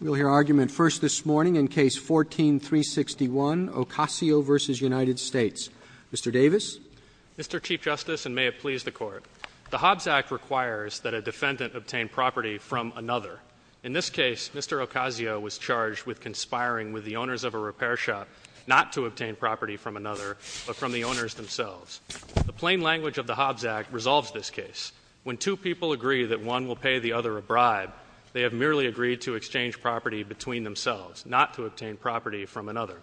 We'll hear argument first this morning in Case 14-361, Ocasio v. United States. Mr. Davis. Mr. Chief Justice, and may it please the court. The Hobbs Act requires that a defendant obtain property from another. In this case, Mr. Ocasio was charged with conspiring with the owners of a repair shop not to obtain property from another, but from the owners themselves. The plain language of the Hobbs Act resolves this case. When two people agree that one will pay the other a bribe, they have merely agreed to exchange property between themselves, not to obtain property from another.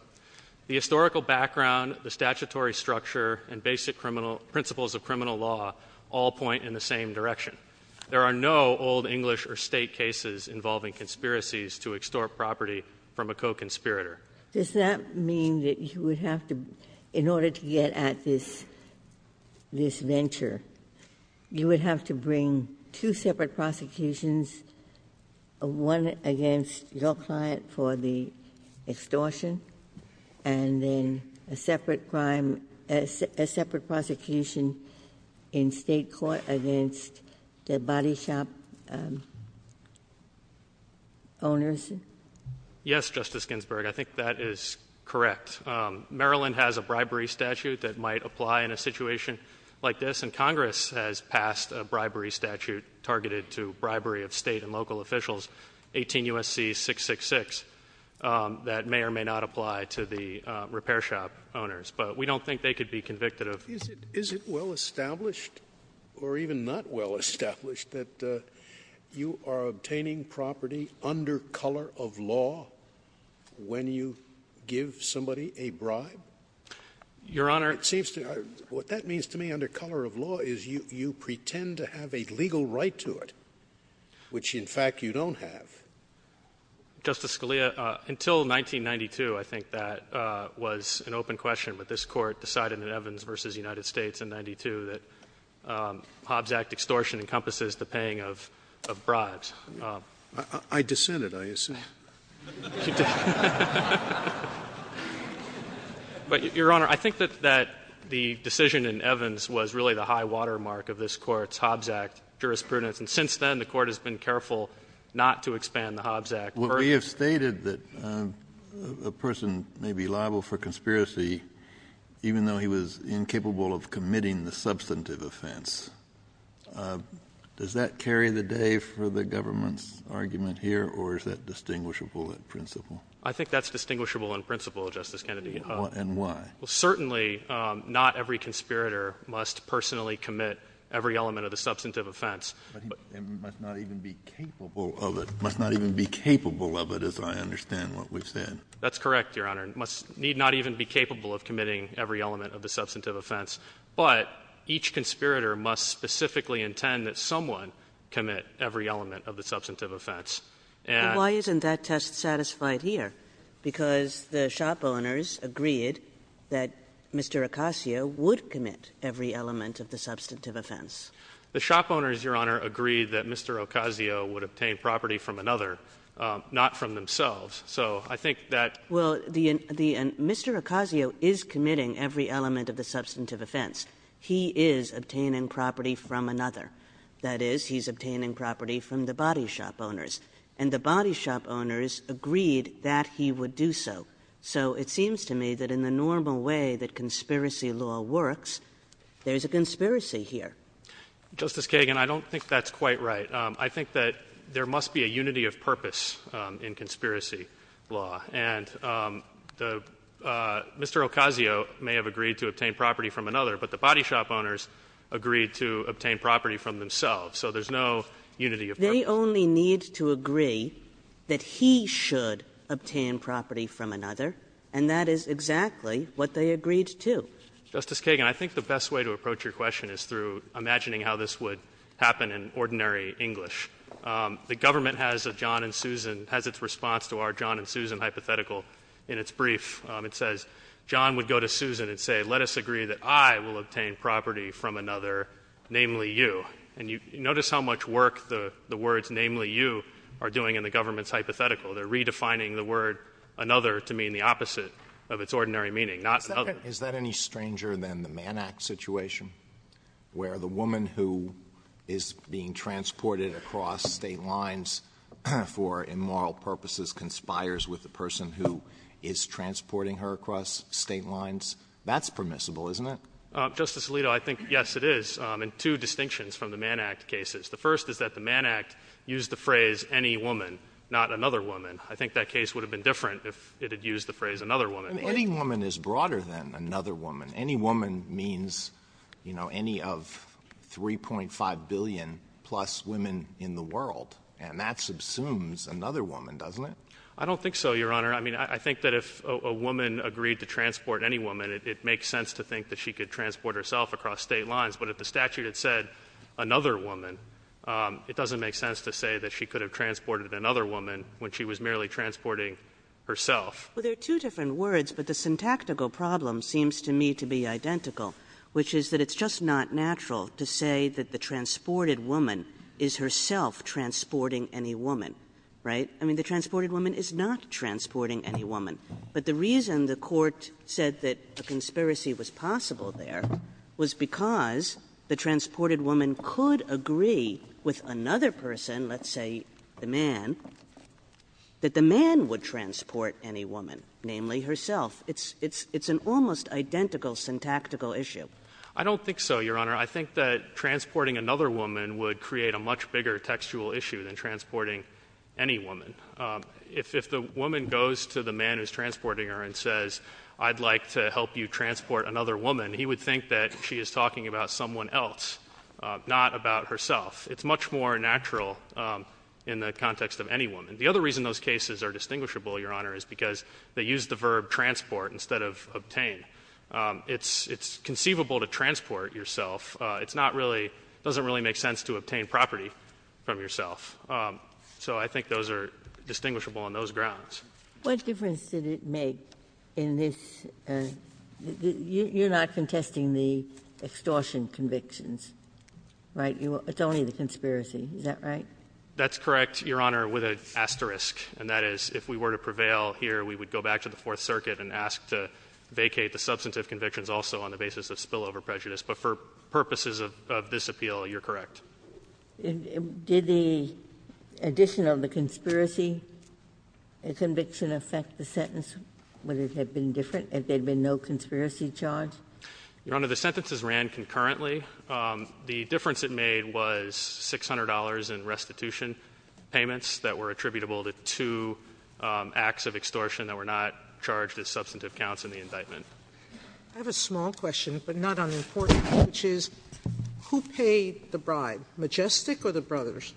The historical background, the statutory structure, and basic principles of criminal law all point in the same direction. There are no old English or state cases involving conspiracies to extort property from a co-conspirator. Does that mean that you would have to, in order to get at this venture, you would have to bring two separate prosecutions, one against your client for the extortion, and then a separate prosecution in State court against the body shop owners? Yes, Justice Ginsburg. I think that is correct. Maryland has a bribery statute that might apply in a situation like this, and Congress has passed a bribery statute targeted to bribery of state and local officials, 18 U.S.C. 666, that may or may not apply to the repair shop owners. But we don't think they could be convicted of- Is it well established, or even not well established, that you are obtaining property under color of law when you give somebody a bribe? Your Honor- It seems to me, what that means to me under color of law is you pretend to have a legal right to it, which in fact you don't have. Justice Scalia, until 1992, I think that was an open question. But this Court decided in Evans v. United States in 92 that Hobbs Act extortion encompasses the paying of bribes. I dissented, I assume. But, Your Honor, I think that the decision in Evans was really the high watermark of this Court's Hobbs Act jurisprudence. And since then, the Court has been careful not to expand the Hobbs Act. Well, we have stated that a person may be liable for conspiracy even though he was incapable of committing the substantive offense. Does that carry the day for the government's argument here, or is that distinguishable in principle? I think that's distinguishable in principle, Justice Kennedy. And why? Well, certainly not every conspirator must personally commit every element of the substantive offense. But he must not even be capable of it. Must not even be capable of it, as I understand what we've said. That's correct, Your Honor. Must not even be capable of committing every element of the substantive offense. But each conspirator must specifically intend that someone commit every element of the substantive offense. And why isn't that test satisfied here? Because the shop owners agreed that Mr. Ocasio would commit every element of the substantive offense. The shop owners, Your Honor, agreed that Mr. Ocasio would obtain property from another, not from themselves. So I think that the Mr. Ocasio is committing every element of the substantive offense. He is obtaining property from another. That is, he's obtaining property from the body shop owners. And the body shop owners agreed that he would do so. So it seems to me that in the normal way that conspiracy law works, there's a conspiracy here. Justice Kagan, I don't think that's quite right. I think that there must be a unity of purpose in conspiracy law. And Mr. Ocasio may have agreed to obtain property from another, but the body shop owners agreed to obtain property from themselves. So there's no unity of purpose. They only need to agree that he should obtain property from another. And that is exactly what they agreed to. Justice Kagan, I think the best way to approach your question is through imagining how this would happen in ordinary English. The government has a John and Susan, has its response to our John and Susan hypothetical in its brief. It says, John would go to Susan and say, let us agree that I will obtain property from another, namely you. And you notice how much work the words namely you are doing in the government's hypothetical. They're redefining the word another to mean the opposite of its ordinary meaning, not another. Is that any stranger than the Mann Act situation, where the woman who is being transported across state lines for immoral purposes conspires with the person who is transporting her across state lines? That's permissible, isn't it? Justice Alito, I think, yes, it is, in two distinctions from the Mann Act cases. The first is that the Mann Act used the phrase any woman, not another woman. I think that case would have been different if it had used the phrase another woman. Any woman is broader than another woman. Any woman means, you know, any of 3.5 billion-plus women in the world. And that subsumes another woman, doesn't it? I don't think so, Your Honor. I mean, I think that if a woman agreed to transport any woman, it makes sense to think that she could transport herself across state lines. But if the statute had said another woman, it doesn't make sense to say that she could have transported another woman when she was merely transporting herself. Well, they're two different words, but the syntactical problem seems to me to be identical, which is that it's just not natural to say that the transported woman is herself transporting any woman, right? I mean, the transported woman is not transporting any woman. But the reason the Court said that a conspiracy was possible there was because the transported woman could agree with another person, let's say the man, that the woman was transporting another woman, namely herself. It's an almost identical syntactical issue. I don't think so, Your Honor. I think that transporting another woman would create a much bigger textual issue than transporting any woman. If the woman goes to the man who's transporting her and says, I'd like to help you transport another woman, he would think that she is talking about someone else, not about herself. It's much more natural in the context of any woman. And the other reason those cases are distinguishable, Your Honor, is because they use the verb transport instead of obtain. It's conceivable to transport yourself. It's not really, doesn't really make sense to obtain property from yourself. So I think those are distinguishable on those grounds. What difference did it make in this, you're not contesting the extortion convictions, right? It's only the conspiracy, is that right? That's correct, Your Honor, with an asterisk. And that is if we were to prevail here, we would go back to the Fourth Circuit and ask to vacate the substantive convictions also on the basis of spillover prejudice. But for purposes of this appeal, you're correct. Did the addition of the conspiracy conviction affect the sentence? Would it have been different if there'd been no conspiracy charge? Your Honor, the sentences ran concurrently. The difference it made was $600 in restitution payments that were attributable to two acts of extortion that were not charged as substantive counts in the indictment. I have a small question, but not unimportant, which is, who paid the bribe, Majestic or the brothers?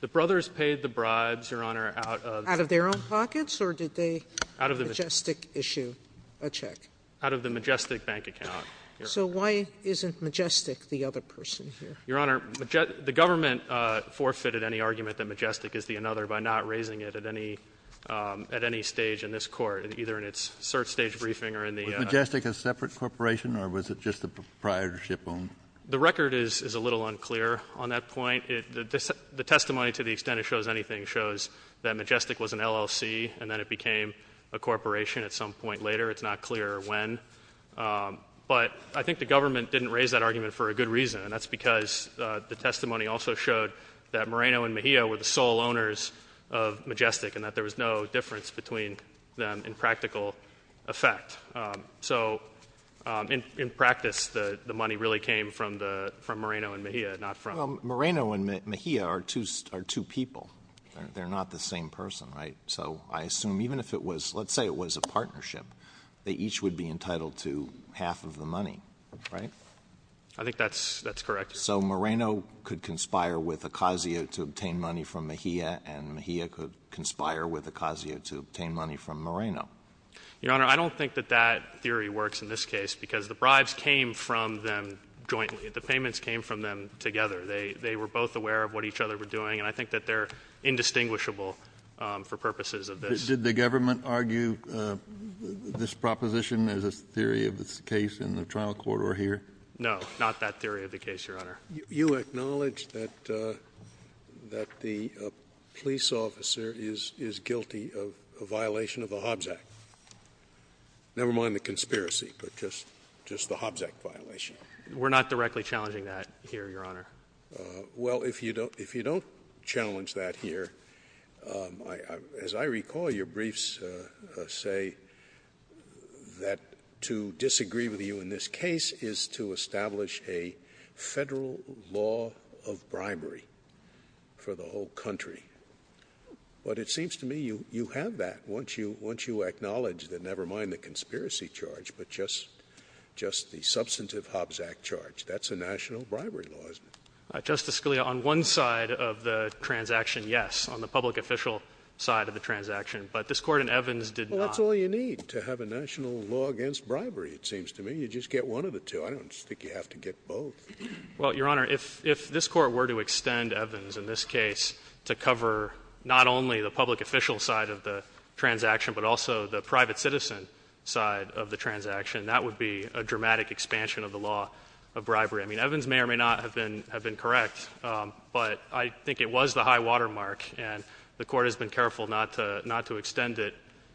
The brothers paid the bribes, Your Honor, out of- Out of their own pockets, or did they Majestic issue a check? Out of the Majestic bank account. So why isn't Majestic the other person here? Your Honor, the government forfeited any argument that Majestic is the another by not raising it at any stage in this court, either in its cert stage briefing or in the- Was Majestic a separate corporation or was it just a proprietorship owned? The record is a little unclear on that point. The testimony to the extent it shows anything shows that Majestic was an LLC and then it became a corporation at some point later. It's not clear when. But I think the government didn't raise that argument for a good reason. And that's because the testimony also showed that Moreno and Mejia were the sole owners of Majestic and that there was no difference between them in practical effect. So in practice, the money really came from Moreno and Mejia, not from- Moreno and Mejia are two people. They're not the same person, right? So I assume even if it was, let's say it was a partnership, they each would be entitled to half of the money, right? I think that's correct. So Moreno could conspire with Ocasio to obtain money from Mejia and Mejia could conspire with Ocasio to obtain money from Moreno. Your Honor, I don't think that that theory works in this case because the bribes came from them jointly. The payments came from them together. They were both aware of what each other were doing, and I think that they're indistinguishable for purposes of this. Did the government argue this proposition as a theory of this case in the trial court or here? No, not that theory of the case, Your Honor. You acknowledge that the police officer is guilty of a violation of the Hobbs Act. Never mind the conspiracy, but just the Hobbs Act violation. We're not directly challenging that here, Your Honor. Well, if you don't challenge that here, as I recall, your briefs say that to disagree with you in this case is to establish a federal law of bribery for the whole country. But it seems to me you have that once you acknowledge that never mind the conspiracy charge, but just the substantive Hobbs Act charge, that's a national bribery law, isn't it? Justice Scalia, on one side of the transaction, yes, on the public official side of the transaction. But this Court in Evans did not. Well, that's all you need to have a national law against bribery, it seems to me. You just get one of the two. I don't think you have to get both. Well, Your Honor, if this Court were to extend Evans in this case to cover not only the public official side of the transaction, but also the private citizen side of the transaction, that would be a dramatic expansion of the law of bribery. I mean, Evans may or may not have been correct, but I think it was the high water mark, and the Court has been careful not to extend it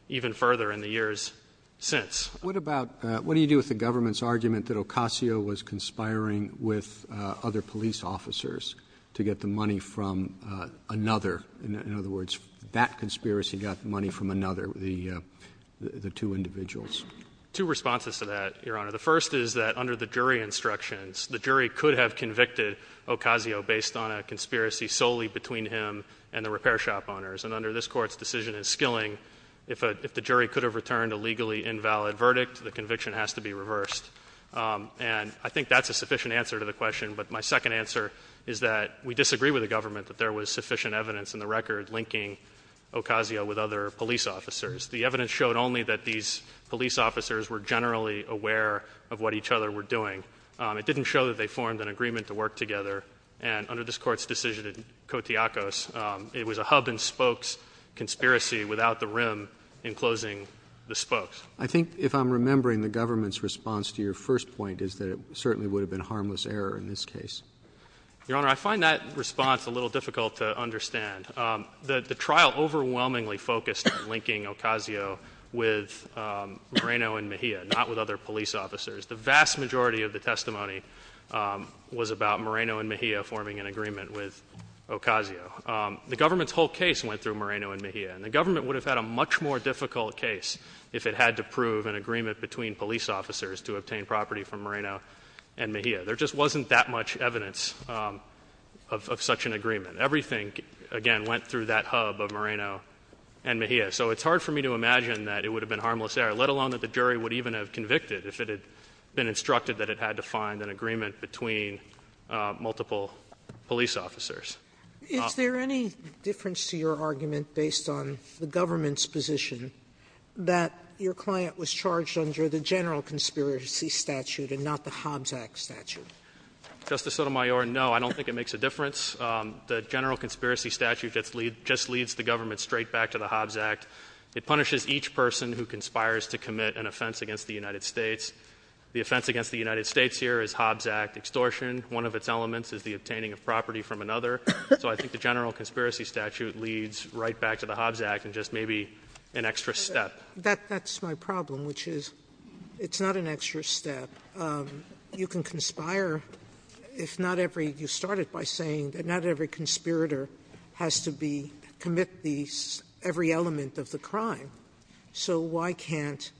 even further in the years since. What about, what do you do with the government's argument that Ocasio was conspiring with other police officers to get the money from another? In other words, that conspiracy got the money from another, the two individuals. Two responses to that, Your Honor. The first is that under the jury instructions, the jury could have convicted Ocasio based on a conspiracy solely between him and the repair shop owners. And under this court's decision in skilling, if the jury could have returned a legally invalid verdict, the conviction has to be reversed. And I think that's a sufficient answer to the question. But my second answer is that we disagree with the government that there was sufficient evidence in the record linking Ocasio with other police officers. The evidence showed only that these police officers were generally aware of what each other were doing. It didn't show that they formed an agreement to work together. And under this court's decision in Kotiakos, it was a hub and I think if I'm remembering the government's response to your first point is that it certainly would have been harmless error in this case. Your Honor, I find that response a little difficult to understand. The trial overwhelmingly focused on linking Ocasio with Moreno and Mejia, not with other police officers. The vast majority of the testimony was about Moreno and Mejia forming an agreement with Ocasio. The government's whole case went through Moreno and Mejia. And the government would have had a much more difficult case if it had to prove an agreement between police officers to obtain property from Moreno and Mejia. There just wasn't that much evidence of such an agreement. Everything, again, went through that hub of Moreno and Mejia. So it's hard for me to imagine that it would have been harmless error, let alone that the jury would even have convicted if it had been instructed that it had to find an agreement between multiple police officers. Is there any difference to your argument based on the government's position that your client was charged under the General Conspiracy Statute and not the Hobbs Act statute? Justice Sotomayor, no, I don't think it makes a difference. The General Conspiracy Statute just leads the government straight back to the Hobbs Act. It punishes each person who conspires to commit an offense against the United States. The offense against the United States here is Hobbs Act extortion. One of its elements is the obtaining of property from another. So I think the General Conspiracy Statute leads right back to the Hobbs Act and just maybe an extra step. That's my problem, which is it's not an extra step. You can conspire if not every, you started by saying that not every conspirator has to commit every element of the crime. So why can't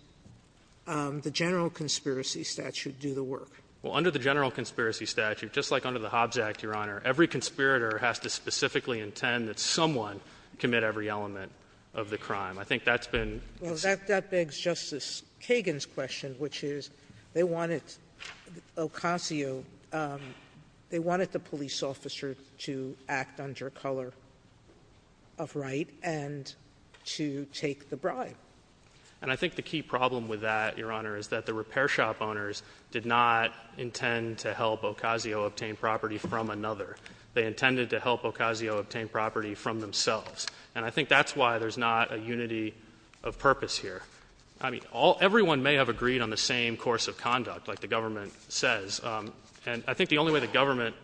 the General Conspiracy Statute do the work? Well, under the General Conspiracy Statute, just like under the Hobbs Act, Your Honor, every conspirator has to specifically intend that someone commit every element of the crime. I think that's been- Well, that begs Justice Kagan's question, which is they wanted Ocasio, they wanted the police officer to act under color of right and to take the bribe. And I think the key problem with that, Your Honor, is that the repair shop owners did not intend to help Ocasio obtain property from another. They intended to help Ocasio obtain property from themselves. And I think that's why there's not a unity of purpose here. I mean, everyone may have agreed on the same course of conduct, like the government says. And I think the only way the government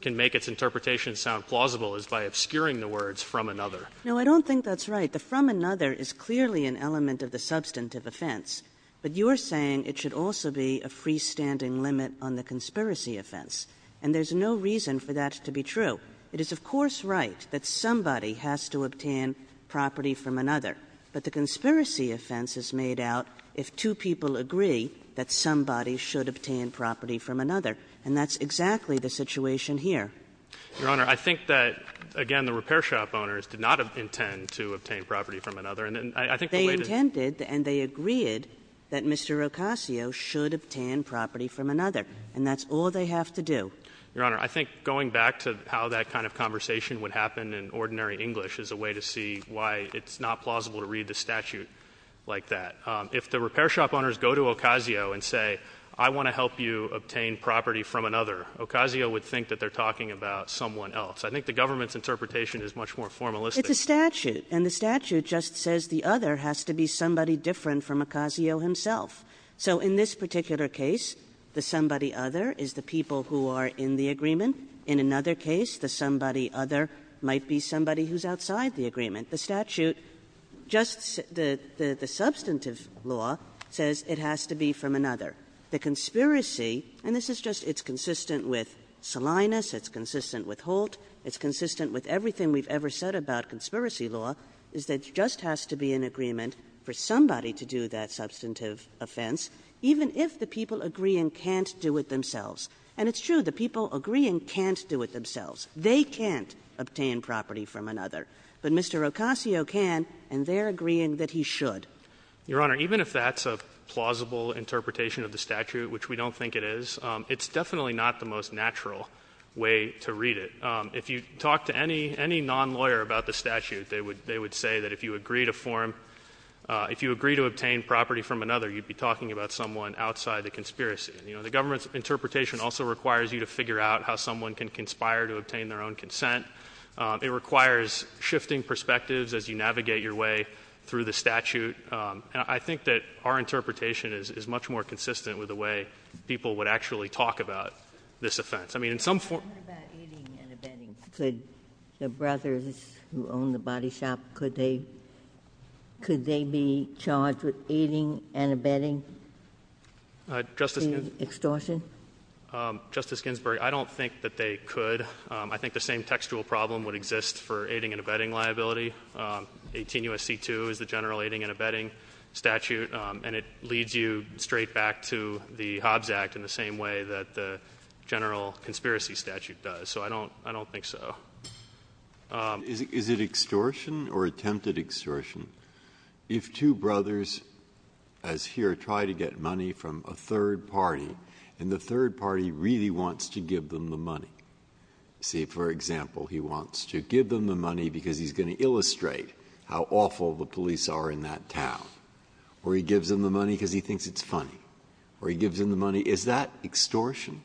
can make its interpretation sound plausible is by obscuring the words from another. No, I don't think that's right. The from another is clearly an element of the substantive offense. But you're saying it should also be a freestanding limit on the conspiracy offense. And there's no reason for that to be true. It is, of course, right that somebody has to obtain property from another. But the conspiracy offense is made out if two people agree that somebody should obtain property from another. And that's exactly the situation here. Your Honor, I think that, again, the repair shop owners did not intend to obtain property from another. And I think the way that- They intended and they agreed that Mr. Ocasio should obtain property from another. And that's all they have to do. Your Honor, I think going back to how that kind of conversation would happen in ordinary English is a way to see why it's not plausible to read the statute like that. If the repair shop owners go to Ocasio and say, I want to help you obtain property from another. Ocasio would think that they're talking about someone else. I think the government's interpretation is much more formalistic. It's a statute. And the statute just says the other has to be somebody different from Ocasio himself. So in this particular case, the somebody other is the people who are in the agreement. In another case, the somebody other might be somebody who's outside the agreement. The statute just the substantive law says it has to be from another. The conspiracy, and this is just, it's consistent with Salinas, it's consistent with Holt. It's consistent with everything we've ever said about conspiracy law, is that it just has to be an agreement for somebody to do that substantive offense, even if the people agreeing can't do it themselves. And it's true, the people agreeing can't do it themselves. They can't obtain property from another. But Mr. Ocasio can, and they're agreeing that he should. Your Honor, even if that's a plausible interpretation of the statute, which we don't think it is, it's definitely not the most natural way to read it. If you talk to any non-lawyer about the statute, they would say that if you agree to form, if you agree to obtain property from another, you'd be talking about someone outside the conspiracy. The government's interpretation also requires you to figure out how someone can conspire to obtain their own consent. It requires shifting perspectives as you navigate your way through the statute. And I think that our interpretation is much more consistent with the way people would actually talk about this offense. I mean, in some form- What about eating and abetting? Could the brothers who own the body shop, could they be charged with eating and abetting? Justice- Extortion? Justice Ginsburg, I don't think that they could. I think the same textual problem would exist for aiding and abetting liability. 18 U.S.C. 2 is the general aiding and abetting statute, and it leads you straight back to the Hobbs Act in the same way that the general conspiracy statute does. So, I don't think so. Is it extortion or attempted extortion? If two brothers, as here, try to get money from a third party, and the third party really wants to give them the money, see, for example, he wants to give them the money because he's going to illustrate how awful the police are in that town. Or he gives them the money because he thinks it's funny. Or he gives them the money. Is that extortion?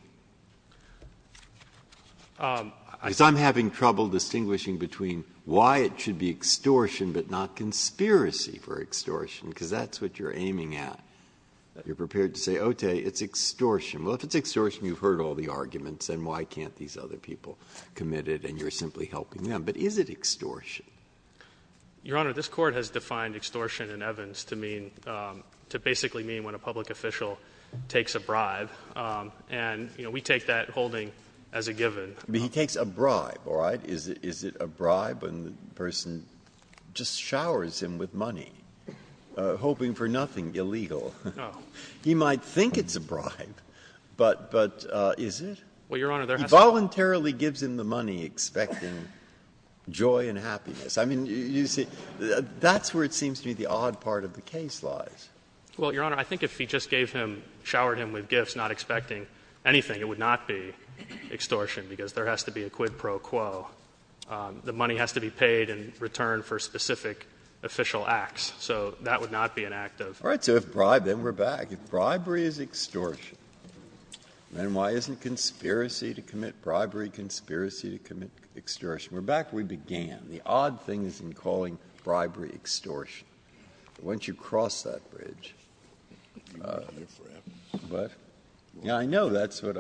As I'm having trouble distinguishing between why it should be extortion, but not conspiracy for extortion, because that's what you're aiming at. You're prepared to say, okay, it's extortion. Well, if it's extortion, you've heard all the arguments, then why can't these other people commit it, and you're simply helping them? But is it extortion? Your Honor, this Court has defined extortion in Evans to mean, to basically mean when a public official takes a bribe, and, you know, we take that holding as a given. But he takes a bribe, all right? Is it a bribe when the person just showers him with money, hoping for nothing illegal? No. He might think it's a bribe. But is it? Well, Your Honor, there has to be — He voluntarily gives him the money, expecting joy and happiness. I mean, you see, that's where it seems to be the odd part of the case lies. Well, Your Honor, I think if he just gave him, showered him with gifts, not expecting anything, it would not be extortion, because there has to be a quid pro quo. The money has to be paid in return for specific official acts. So that would not be an act of — All right. So if bribe, then we're back. If bribery is extortion. Then why isn't conspiracy to commit bribery conspiracy to commit extortion? We're back where we began. The odd thing is in calling bribery extortion. Once you cross that bridge — You've been here forever. But, you know, I know that's what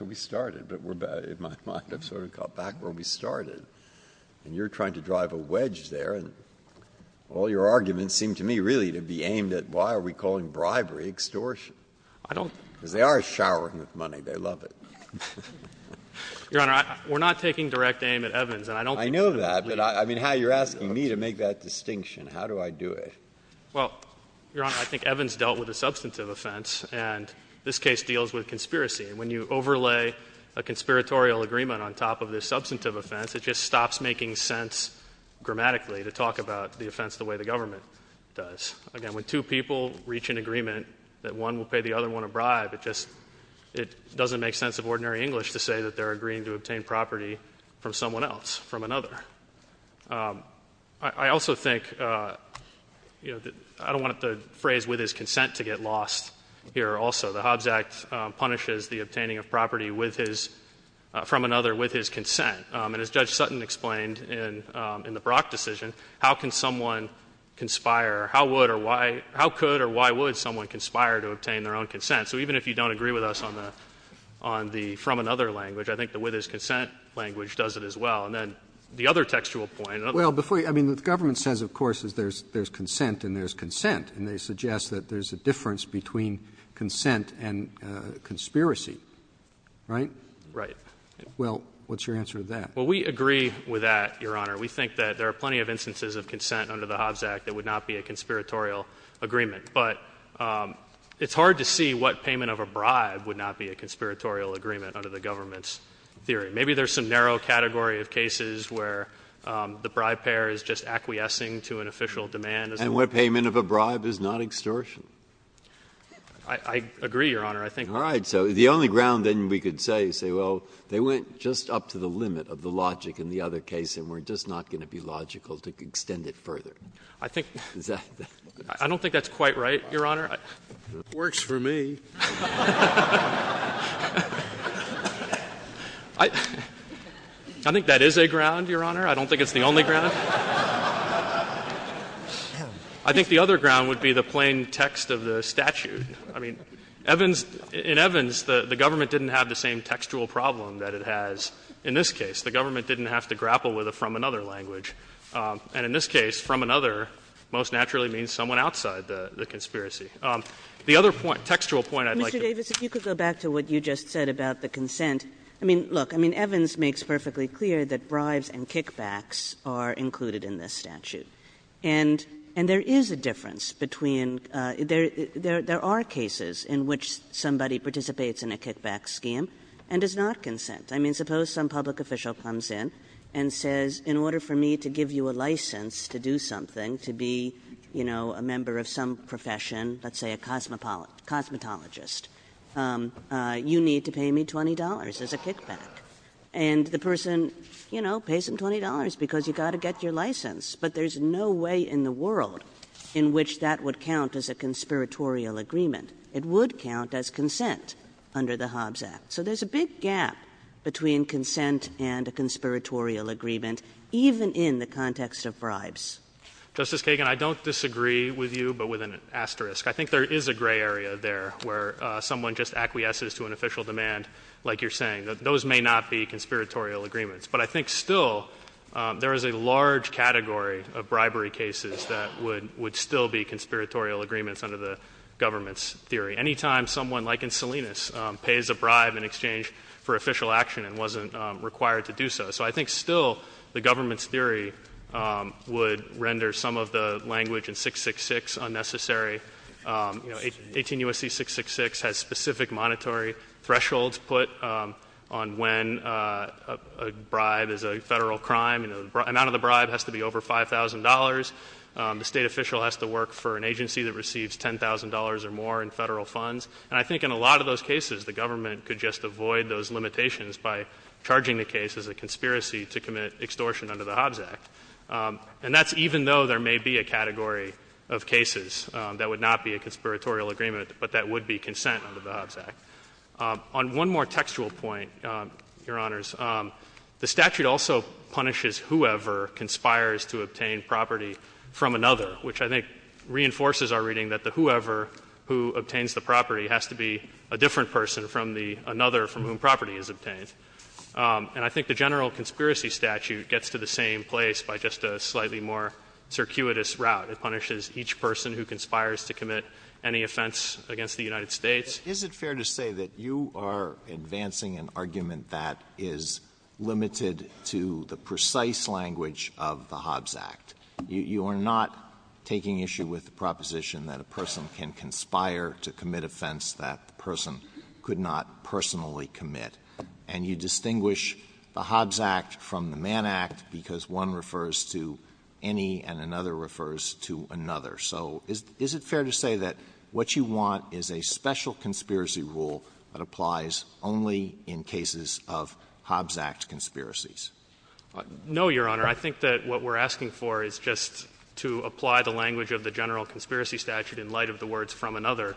we started, but we're back — in my mind, I've sort of got back where we started. And you're trying to drive a wedge there, and all your arguments seem to me really to be aimed at why are we calling bribery extortion. I don't — Because they are showering with money. They love it. Your Honor, we're not taking direct aim at Evans, and I don't — I know that, but I mean, how you're asking me to make that distinction. How do I do it? Well, Your Honor, I think Evans dealt with a substantive offense, and this case deals with conspiracy. And when you overlay a conspiratorial agreement on top of this substantive offense, it just stops making sense grammatically to talk about the offense the way the government does. Again, when two people reach an agreement that one will pay the other one a bribe, it just — it doesn't make sense of ordinary English to say that they're agreeing to obtain property from someone else, from another. I also think, you know, that — I don't want the phrase, with his consent, to get lost here also. The Hobbs Act punishes the obtaining of property with his — from another with his consent. And as Judge Sutton explained in the Brock decision, how can someone conspire — how would or why — how could or why would someone conspire to obtain their own consent? So even if you don't agree with us on the — on the from another language, I think the with his consent language does it as well. And then the other textual point — Well, before you — I mean, what the government says, of course, is there's — there's consent and there's consent. And they suggest that there's a difference between consent and conspiracy. Right? Right. Well, what's your answer to that? Well, we agree with that, Your Honor. We think that there are plenty of instances of consent under the Hobbs Act that would not be a conspiratorial agreement. But it's hard to see what payment of a bribe would not be a conspiratorial agreement under the government's theory. Maybe there's some narrow category of cases where the bribe payer is just acquiescing to an official demand as — And what payment of a bribe is not extortion. I — I agree, Your Honor. I think — All right. So the only ground, then, we could say is say, well, they went just up to the limit of the logic in the other case, and we're just not going to be logical to extend it further. I think — Is that — I don't think that's quite right, Your Honor. Works for me. I think that is a ground, Your Honor. I don't think it's the only ground. I think the other ground would be the plain text of the statute. I mean, Evans — in Evans, the government didn't have the same textual problem that it has in this case. The government didn't have to grapple with a from another language. And in this case, from another most naturally means someone outside the conspiracy. The other point, textual point, I'd like to — Mr. Davis, if you could go back to what you just said about the consent. I mean, look, I mean, Evans makes perfectly clear that bribes and kickbacks are included in this statute. And — and there is a difference between — there — there are cases in which somebody participates in a kickback scheme and does not consent. I mean, suppose some public official comes in and says, in order for me to give you a license to do something, to be, you know, a member of some profession, let's say a cosmo — cosmetologist, you need to pay me $20 as a kickback. And the person, you know, pays him $20 because you've got to get your license. But there's no way in the world in which that would count as a conspiratorial agreement. It would count as consent under the Hobbs Act. So there's a big gap between consent and a conspiratorial agreement, even in the context of bribes. Justice Kagan, I don't disagree with you, but with an asterisk. I think there is a gray area there where someone just acquiesces to an official demand, like you're saying. Those may not be conspiratorial agreements. But I think still there is a large category of bribery cases that would — would still be conspiratorial agreements under the government's theory. Any time someone, like in Salinas, pays a bribe in exchange for official action and wasn't required to do so. So I think still the government's theory would render some of the language in 666 unnecessary. You know, 18 U.S.C. 666 has specific monetary thresholds put on when a bribe is a Federal crime. You know, the amount of the bribe has to be over $5,000. The State official has to work for an agency that receives $10,000 or more in Federal funds. And I think in a lot of those cases, the government could just avoid those limitations by charging the case as a conspiracy to commit extortion under the Hobbs Act. And that's even though there may be a category of cases that would not be a conspiratorial agreement, but that would be consent under the Hobbs Act. On one more textual point, Your Honors, the statute also punishes whoever conspires to obtain property from another, which I think reinforces our reading that the whoever who obtains the property has to be a different person from the another from whom property is obtained. And I think the general conspiracy statute gets to the same place by just a slightly more circuitous route. It punishes each person who conspires to commit any offense against the United States. Alito, is it fair to say that you are advancing an argument that is limited to the Hobbs Act? You are not taking issue with the proposition that a person can conspire to commit offense that the person could not personally commit, and you distinguish the Hobbs Act from the Mann Act because one refers to any and another refers to another. So is it fair to say that what you want is a special conspiracy rule that applies only in cases of Hobbs Act conspiracies? No, Your Honor. I think that what we are asking for is just to apply the language of the general conspiracy statute in light of the words from another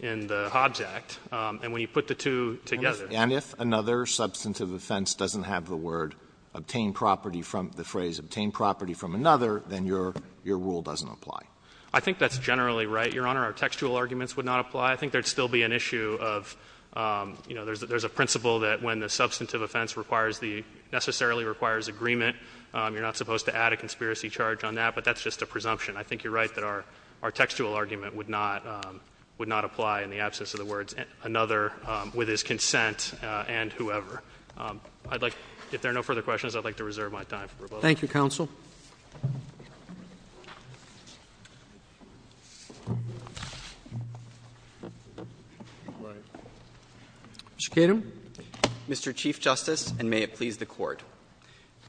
in the Hobbs Act. And when you put the two together. And if another substantive offense doesn't have the word obtain property from the phrase, obtain property from another, then your rule doesn't apply. I think that's generally right, Your Honor. Our textual arguments would not apply. I think there would still be an issue of, you know, there's a principle that when an offense necessarily requires agreement, you are not supposed to add a conspiracy charge on that, but that's just a presumption. I think you are right that our textual argument would not apply in the absence of the words another, with his consent, and whoever. If there are no further questions, I would like to reserve my time for rebuttal. Thank you, counsel. Mr. Kedem. Mr. Kedem. Mr. Chief Justice, and may it please the Court.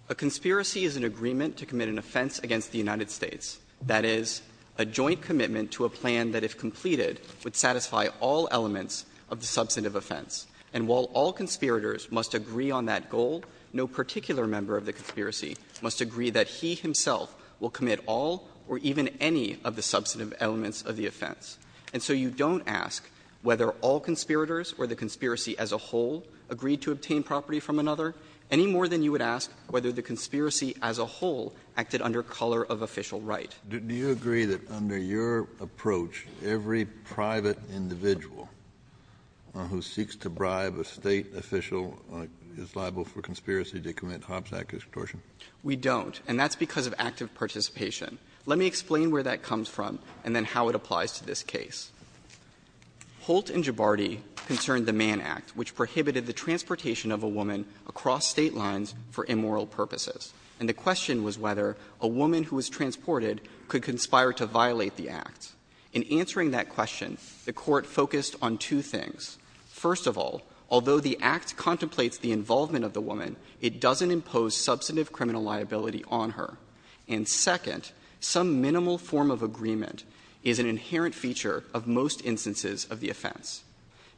A conspiracy is an agreement to commit an offense against the United States. That is, a joint commitment to a plan that, if completed, would satisfy all elements of the substantive offense. And while all conspirators must agree on that goal, no particular member of the conspiracy must agree that he himself will commit all or even any of the substantive elements of the offense. And so you don't ask whether all conspirators or the conspiracy as a whole agreed to obtain property from another, any more than you would ask whether the conspiracy as a whole acted under color of official right. Kennedy, do you agree that under your approach, every private individual who seeks to bribe a State official is liable for conspiracy to commit Hobbs Act extortion? We don't, and that's because of active participation. Let me explain where that comes from and then how it applies to this case. Holt and Gibardi concerned the Mann Act, which prohibited the transportation of a woman across State lines for immoral purposes. And the question was whether a woman who was transported could conspire to violate the act. In answering that question, the Court focused on two things. First of all, although the act contemplates the involvement of the woman, it doesn't impose substantive criminal liability on her. And second, some minimal form of agreement is an inherent feature of most instances of the offense.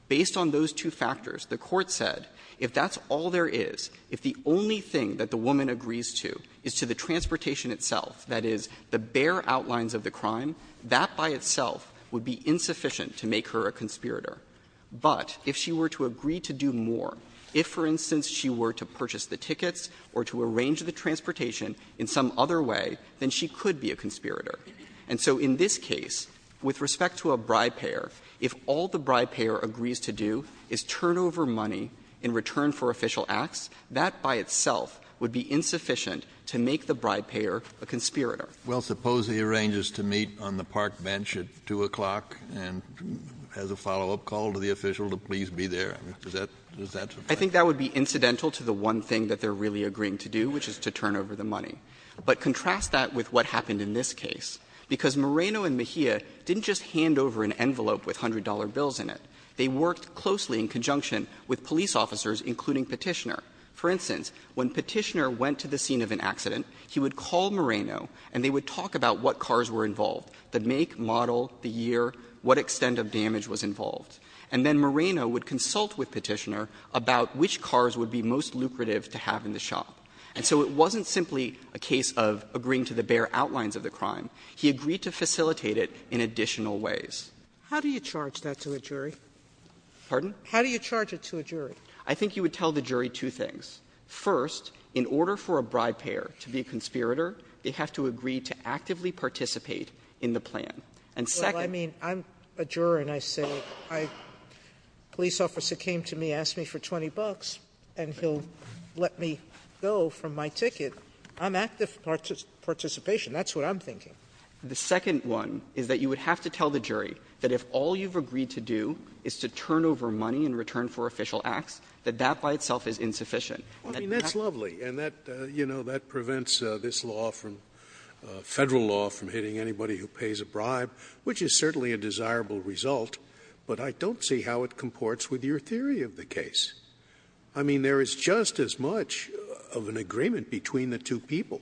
Based on those two factors, the Court said if that's all there is, if the only thing that the woman agrees to is to the transportation itself, that is, the bare outlines of the crime, that by itself would be insufficient to make her a conspirator. But if she were to agree to do more, if, for instance, she were to purchase the tickets or to arrange the transportation in some other way, then she could be a conspirator. And so in this case, with respect to a bribe-payer, if all the bribe-payer agrees to do is turn over money in return for official acts, that by itself would be insufficient to make the bribe-payer a conspirator. Kennedy, Well, suppose he arranges to meet on the park bench at 2 o'clock and has a follow-up call to the official to please be there. Does that suffice? I think that would be incidental to the one thing that they're really agreeing to do, which is to turn over the money. But contrast that with what happened in this case, because Moreno and Mejia didn't just hand over an envelope with $100 bills in it. They worked closely in conjunction with police officers, including Petitioner. For instance, when Petitioner went to the scene of an accident, he would call Moreno and they would talk about what cars were involved, the make, model, the year, what extent of damage was involved. And then Moreno would consult with Petitioner about which cars would be most lucrative to have in the shop. And so it wasn't simply a case of agreeing to the bare outlines of the crime. He agreed to facilitate it in additional ways. Sotomayor, how do you charge that to a jury? Pardon? Sotomayor, how do you charge it to a jury? I think you would tell the jury two things. First, in order for a bribe-payer to be a conspirator, they have to agree to actively participate in the plan. And second — Sotomayor, I mean, I'm a juror, and I say, I — a police officer came to me, asked me for 20 bucks, and he'll let me go from my ticket. I'm active in participation. That's what I'm thinking. The second one is that you would have to tell the jury that if all you've agreed to do is to turn over money in return for official acts, that that by itself is insufficient. I mean, that's lovely. And that, you know, that prevents this law from — Federal law from hitting anybody who pays a bribe, which is certainly a desirable result, but I don't see how it comports with your theory of the case. I mean, there is just as much of an agreement between the two people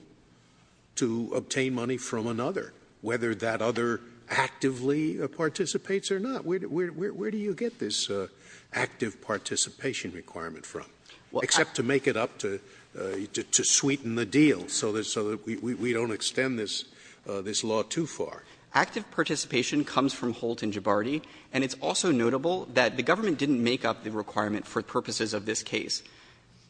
to obtain money from another, whether that other actively participates or not. Where do you get this active participation requirement from, except to make it up to sweeten the deal so that — so that we don't extend this law too far? Active participation comes from Holt and Gibardi, and it's also notable that the government didn't make up the requirement for purposes of this case.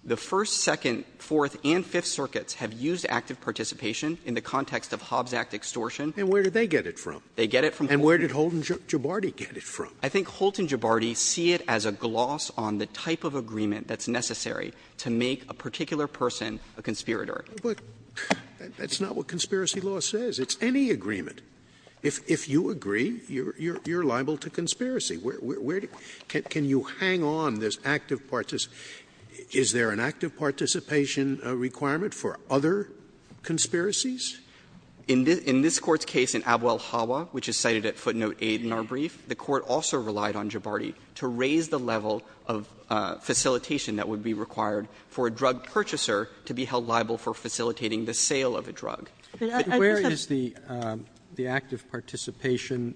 The First, Second, Fourth, and Fifth Circuits have used active participation in the context of Hobbs Act extortion. And where did they get it from? They get it from Holt. And where did Holt and Gibardi get it from? I think Holt and Gibardi see it as a gloss on the type of agreement that's necessary to make a particular person a conspirator. Scalia But that's not what conspiracy law says. It's any agreement. If you agree, you're liable to conspiracy. Where do — can you hang on this active — is there an active participation requirement for other conspiracies? In this Court's case in Abwell-Hawa, which is cited at footnote 8 in our brief, the Court also relied on Gibardi to raise the level of facilitation that would be required for a drug purchaser to be held liable for facilitating the sale of a drug. But I think that's a— Roberts But where is the active participation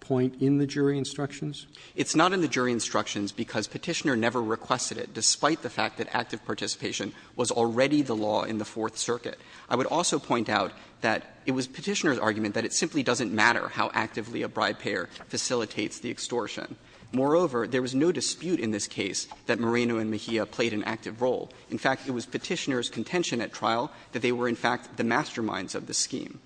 point in the jury instructions? It's not in the jury instructions because Petitioner never requested it, despite the fact that active participation was already the law in the Fourth Circuit. I would also point out that it was Petitioner's argument that it simply doesn't matter how actively a bribe-payer facilitates the extortion. Moreover, there was no dispute in this case that Moreno and Mejia played an active role. In fact, it was Petitioner's contention at trial that they were, in fact, the masterminds of the scheme.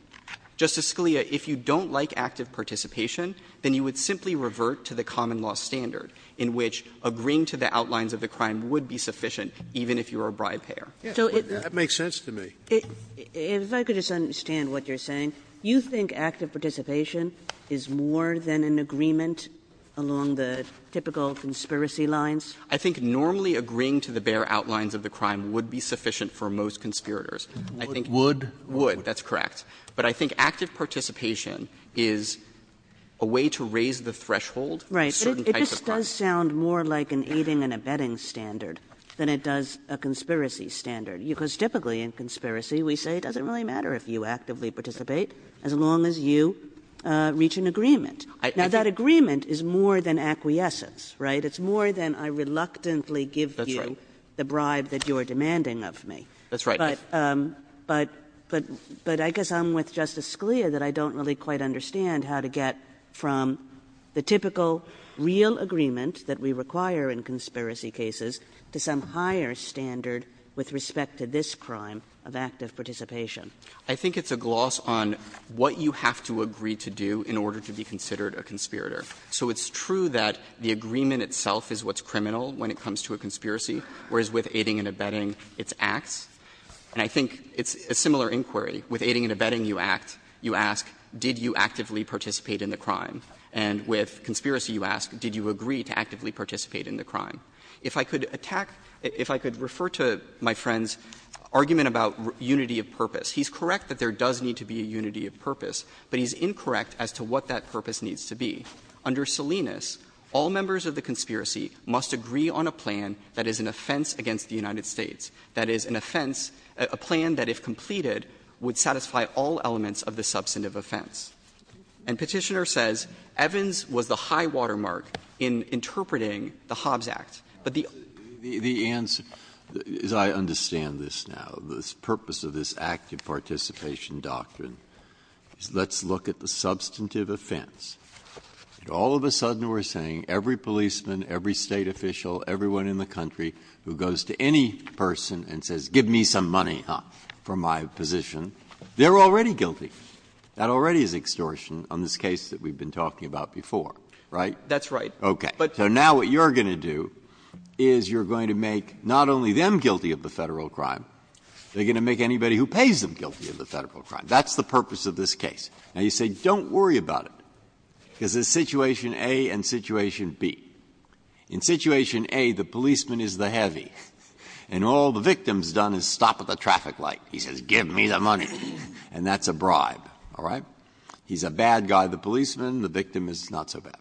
Justice Scalia, if you don't like active participation, then you would simply revert to the common-law standard in which agreeing to the outlines of the crime would be sufficient, even if you were a bribe-payer. Sotomayor That makes sense to me. Kagan If I could just understand what you're saying. You think active participation is more than an agreement along the typical conspiracy lines? I think normally agreeing to the bare outlines of the crime would be sufficient for most conspirators. I think Would? Would. That's correct. But I think active participation is a way to raise the threshold for certain types of crimes. Right. But it just does sound more like an aiding and abetting standard than it does a conspiracy standard, because typically in conspiracy we say it doesn't really matter if you actively participate as long as you reach an agreement. Now, that agreement is more than acquiescence, right? It's more than I reluctantly give you the bribe that you're demanding of me. That's right. But I guess I'm with Justice Scalia that I don't really quite understand how to get from the typical real agreement that we require in conspiracy cases to some higher standard with respect to this crime of active participation. I think it's a gloss on what you have to agree to do in order to be considered a conspirator. So it's true that the agreement itself is what's criminal when it comes to a conspiracy, whereas with aiding and abetting it's acts. And I think it's a similar inquiry. With aiding and abetting you act, you ask, did you actively participate in the crime? And with conspiracy you ask, did you agree to actively participate in the crime? If I could attack — if I could refer to my friend's argument about unity of purpose, he's correct that there does need to be a unity of purpose, but he's incorrect as to what that purpose needs to be. Under Salinas, all members of the conspiracy must agree on a plan that is an offense against the United States, that is, an offense, a plan that if completed would satisfy all elements of the substantive offense. And Petitioner says Evans was the high watermark in interpreting the Hobbs Act. But the other thing is that the — Breyer. The answer, as I understand this now, the purpose of this active participation doctrine is let's look at the substantive offense. All of a sudden we're saying every policeman, every State official, everyone in the country who goes to any person and says, give me some money, huh, for my position, they're already guilty. That already is extortion on this case that we've been talking about before, right? That's right. Okay. So now what you're going to do is you're going to make not only them guilty of the Federal crime, they're going to make anybody who pays them guilty of the Federal crime. That's the purpose of this case. Now, you say don't worry about it, because there's situation A and situation B. In situation A, the policeman is the heavy, and all the victim's done is stop at the traffic light. He says, give me the money, and that's a bribe, all right? He's a bad guy, the policeman, the victim is not so bad.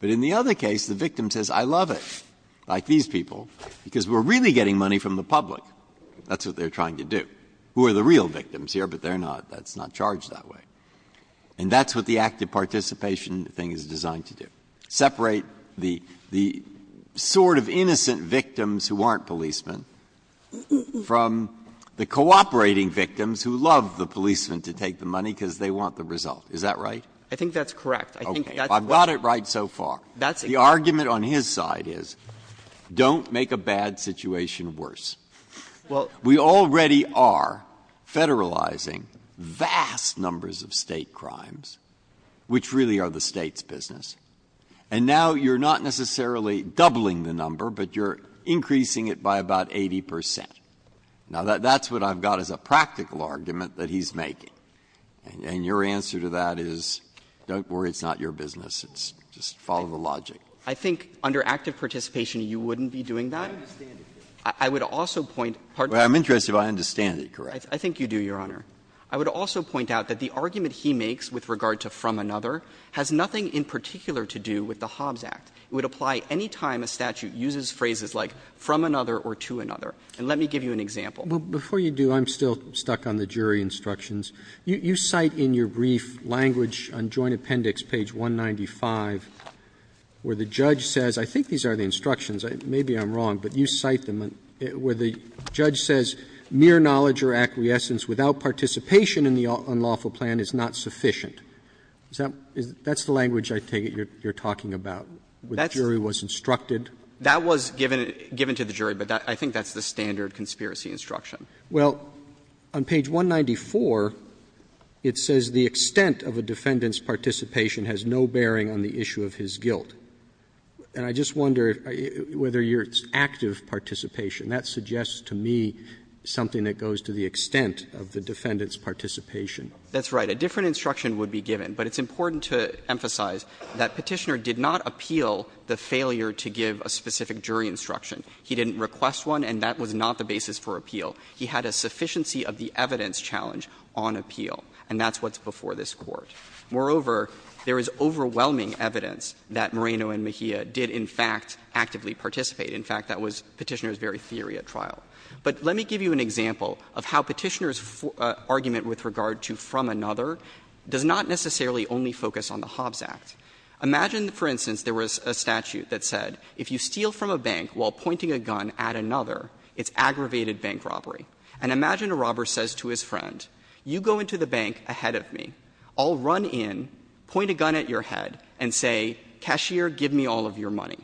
But in the other case, the victim says, I love it, like these people, because we're really getting money from the public. That's what they're trying to do. Who are the real victims here, but they're not, that's not charged that way. And that's what the active participation thing is designed to do, separate the sort of innocent victims who aren't policemen from the cooperating victims who love the policemen to take the money because they want the result. Is that right? I think that's correct. Breyer. I've got it right so far. The argument on his side is, don't make a bad situation worse. We already are federalizing vast numbers of State crimes, which really are the State's business. And now you're not necessarily doubling the number, but you're increasing it by about 80 percent. Now, that's what I've got as a practical argument that he's making. And your answer to that is, don't worry, it's not your business, it's just follow the logic. I think under active participation, you wouldn't be doing that. I understand it. I would also point, pardon me. Well, I'm interested if I understand it correctly. I think you do, Your Honor. I would also point out that the argument he makes with regard to from another has nothing in particular to do with the Hobbs Act. It would apply any time a statute uses phrases like from another or to another. And let me give you an example. Before you do, I'm still stuck on the jury instructions. You cite in your brief language on Joint Appendix page 195 where the judge says — I think these are the instructions, maybe I'm wrong, but you cite them — where the judge says mere knowledge or acquiescence without participation in the unlawful plan is not sufficient. Is that — that's the language I take it you're talking about, where the jury was instructed? That was given to the jury, but I think that's the standard conspiracy instruction. Well, on page 194, it says the extent of a defendant's participation has no bearing on the issue of his guilt. And I just wonder whether your active participation, that suggests to me something that goes to the extent of the defendant's participation. That's right. A different instruction would be given, but it's important to emphasize that Petitioner did not appeal the failure to give a specific jury instruction. He didn't request one, and that was not the basis for appeal. He had a sufficiency of the evidence challenge on appeal, and that's what's before this Court. Moreover, there is overwhelming evidence that Moreno and Mejia did, in fact, actively participate. In fact, that was Petitioner's very theory at trial. But let me give you an example of how Petitioner's argument with regard to from another does not necessarily only focus on the Hobbs Act. Imagine, for instance, there was a statute that said if you steal from a bank while And imagine a robber says to his friend, you go into the bank ahead of me, I'll run in, point a gun at your head, and say, cashier, give me all of your money.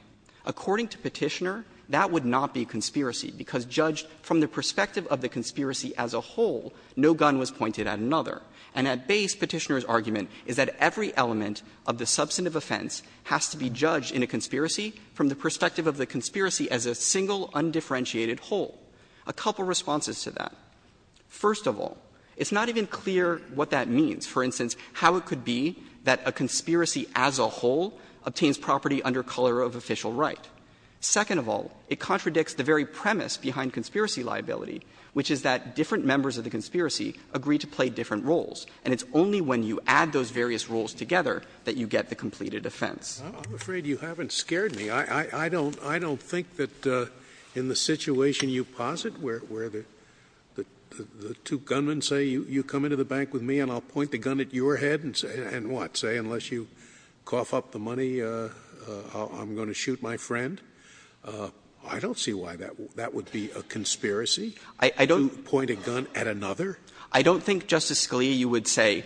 According to Petitioner, that would not be conspiracy, because judged from the perspective of the conspiracy as a whole, no gun was pointed at another. And at base, Petitioner's argument is that every element of the substantive offense has to be judged in a conspiracy from the perspective of the conspiracy as a single, undifferentiated whole. A couple of responses to that. First of all, it's not even clear what that means. For instance, how it could be that a conspiracy as a whole obtains property under color of official right. Second of all, it contradicts the very premise behind conspiracy liability, which is that different members of the conspiracy agree to play different roles. And it's only when you add those various roles together that you get the completed offense. Scalia. I'm afraid you haven't scared me. I don't think that in the situation you posit, where the two gunmen say, you come into the bank with me and I'll point the gun at your head, and what, say, unless you cough up the money, I'm going to shoot my friend? I don't see why that would be a conspiracy to point a gun at another. I don't think, Justice Scalia, you would say,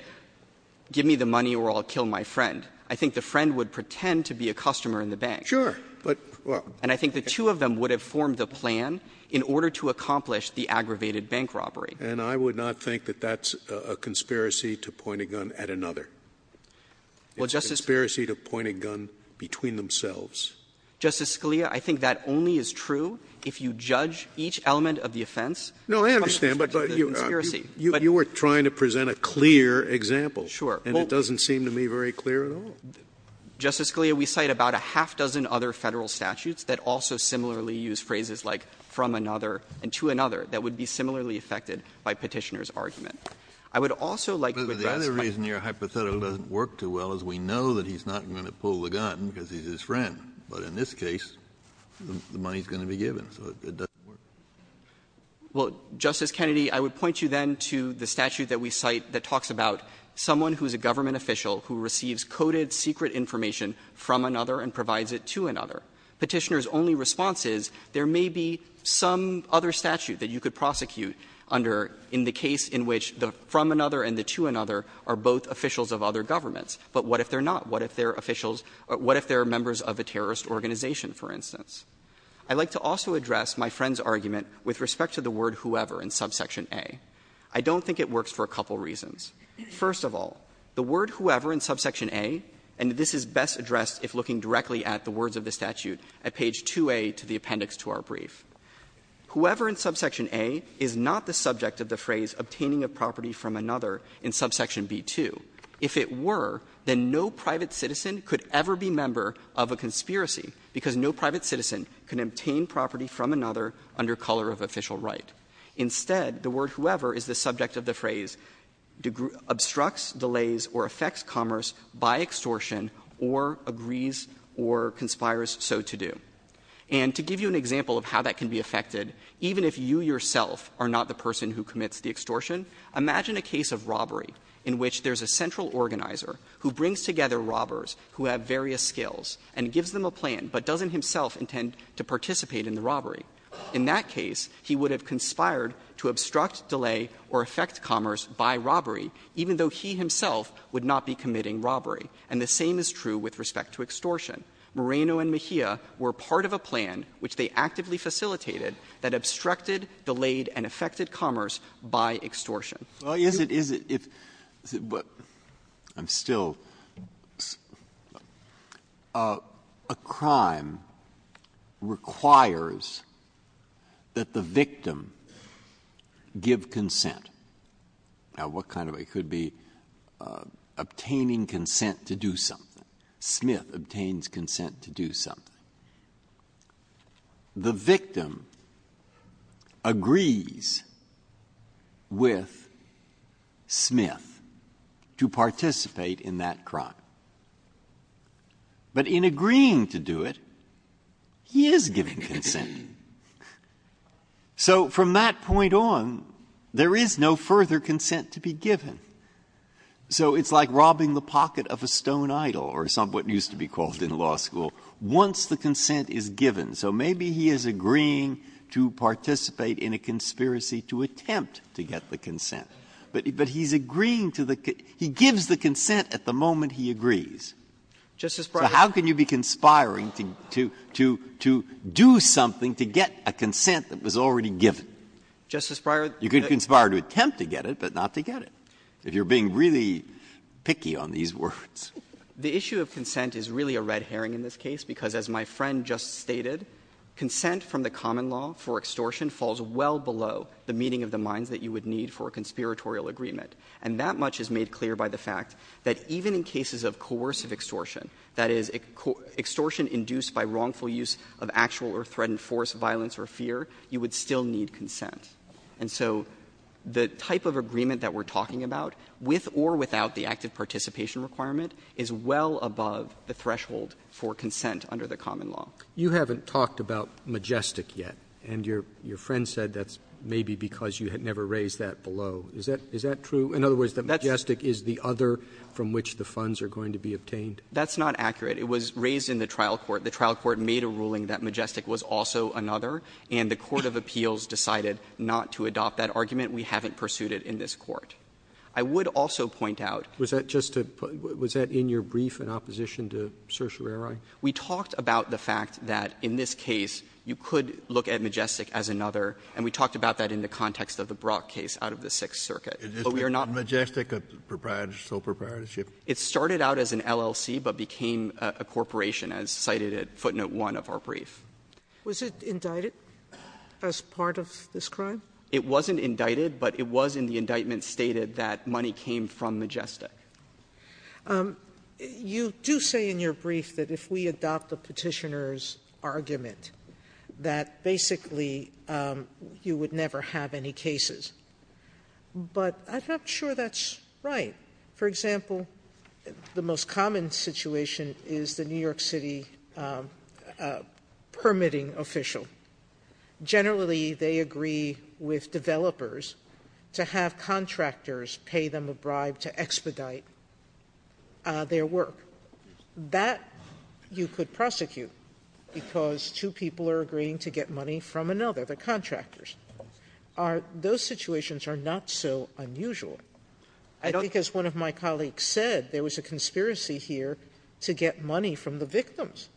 give me the money or I'll kill my friend. I think the friend would pretend to be a customer in the bank. Sure. But, well — And I think the two of them would have formed a plan in order to accomplish the aggravated bank robbery. And I would not think that that's a conspiracy to point a gun at another. Well, Justice — It's a conspiracy to point a gun between themselves. Justice Scalia, I think that only is true if you judge each element of the offense — No, I understand, but you were trying to present a clear example. Sure. And it doesn't seem to me very clear at all. Justice Scalia, we cite about a half-dozen other Federal statutes that also similarly use phrases like, from another and to another, that would be similarly affected by Petitioner's argument. I would also like to address — But the other reason your hypothetical doesn't work too well is we know that he's not going to pull the gun because he's his friend. But in this case, the money is going to be given, so it doesn't work. Well, Justice Kennedy, I would point you then to the statute that we cite that talks about someone who is a government official who receives coded secret information from another and provides it to another. Petitioner's only response is there may be some other statute that you could prosecute under in the case in which the from another and the to another are both officials of other governments. But what if they're not? What if they're officials — what if they're members of a terrorist organization, for instance? I'd like to also address my friend's argument with respect to the word whoever in subsection A. I don't think it works for a couple reasons. First of all, the word whoever in subsection A, and this is best addressed if looking directly at the words of the statute at page 2A to the appendix to our brief. Whoever in subsection A is not the subject of the phrase obtaining a property from another in subsection B-2. If it were, then no private citizen could ever be member of a conspiracy because no private citizen can obtain property from another under color of official right. Instead, the word whoever is the subject of the phrase obstructs, delays, or affects commerce by extortion or agrees or conspires so to do. And to give you an example of how that can be affected, even if you yourself are not the person who commits the extortion, imagine a case of robbery in which there's a central organizer who brings together robbers who have various skills and gives them a plan, but doesn't himself intend to participate in the robbery. In that case, he would have conspired to obstruct, delay, or affect commerce by robbery, even though he himself would not be committing robbery. And the same is true with respect to extortion. Moreno and Mejia were part of a plan which they actively facilitated that obstructed, delayed, and affected commerce by extortion. Breyer. Well, is it, is it, if, but, I'm still, a crime requires that the victim give consent. Now, what kind of, it could be obtaining consent to do something. Smith obtains consent to do something. The victim agrees with Smith to participate in that crime. But in agreeing to do it, he is giving consent. So from that point on, there is no further consent to be given. So it's like robbing the pocket of a stone idol, or some, what used to be called in law school, once the consent is given. So maybe he is agreeing to participate in a conspiracy to attempt to get the consent. But, but he's agreeing to the, he gives the consent at the moment he agrees. Justice Breyer. So how can you be conspiring to, to, to, to do something to get a consent that was already given? Justice Breyer. You could conspire to attempt to get it, but not to get it. If you're being really picky on these words. The issue of consent is really a red herring in this case, because as my friend just stated, consent from the common law for extortion falls well below the meeting of the minds that you would need for a conspiratorial agreement. And that much is made clear by the fact that even in cases of coercive extortion, that is, extortion induced by wrongful use of actual or threatened force, violence or fear, you would still need consent. And so the type of agreement that we're talking about, with or without the active participation requirement, is well above the threshold for consent under the common law. Roberts. You haven't talked about Majestic yet, and your, your friend said that's maybe because you had never raised that below. Is that, is that true? In other words, that Majestic is the other from which the funds are going to be obtained? That's not accurate. It was raised in the trial court. The trial court made a ruling that Majestic was also another, and the court of appeals decided not to adopt that argument. We haven't pursued it in this court. I would also point out. Was that just to put, was that in your brief in opposition to certiorari? We talked about the fact that in this case, you could look at Majestic as another, and we talked about that in the context of the Brock case out of the Sixth Circuit. But we are not. Majestic, a proprietorship, sole proprietorship. It started out as an LLC but became a corporation, as cited at footnote 1 of our brief. Was it indicted as part of this crime? It wasn't indicted, but it was in the indictment stated that money came from Majestic. Sotomayor, you do say in your brief that if we adopt the Petitioner's argument that basically you would never have any cases. But I'm not sure that's right. For example, the most common situation is the New York City permitting official. Generally, they agree with developers to have contractors pay them a bribe to expedite their work. That you could prosecute, because two people are agreeing to get money from another, the contractors. Are those situations are not so unusual? I think as one of my colleagues said, there was a conspiracy here to get money from the victims.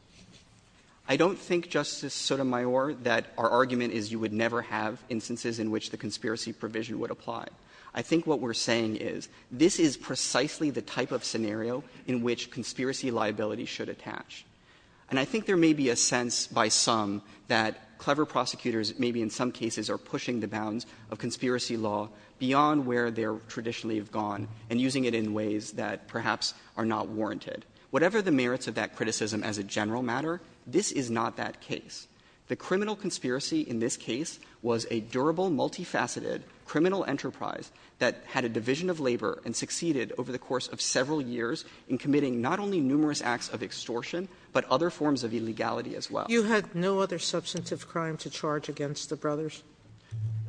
I don't think, Justice Sotomayor, that our argument is you would never have instances in which the conspiracy provision would apply. I think what we're saying is this is precisely the type of scenario in which conspiracy liability should attach. And I think there may be a sense by some that clever prosecutors maybe in some cases are pushing the bounds of conspiracy law beyond where they traditionally have gone and using it in ways that perhaps are not warranted. Whatever the merits of that criticism as a general matter, this is not that case. The criminal conspiracy in this case was a durable, multifaceted criminal enterprise that had a division of labor and succeeded over the course of several years in committing not only numerous acts of extortion, but other forms of illegality as well. You had no other substantive crime to charge against the brothers?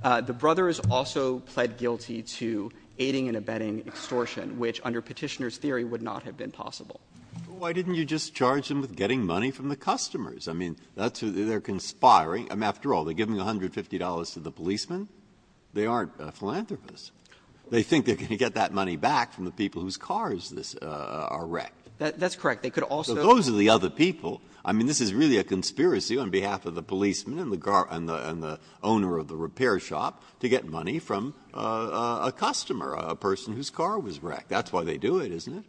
The brothers also pled guilty to aiding and abetting extortion, which under Petitioner's Why didn't you just charge them with getting money from the customers? I mean, that's who they're conspiring. I mean, after all, they give them $150 to the policemen. They aren't philanthropists. They think they're going to get that money back from the people whose cars are wrecked. That's correct. They could also go to the other people. I mean, this is really a conspiracy on behalf of the policemen and the owner of the repair shop to get money from a customer, a person whose car was wrecked. That's why they do it, isn't it?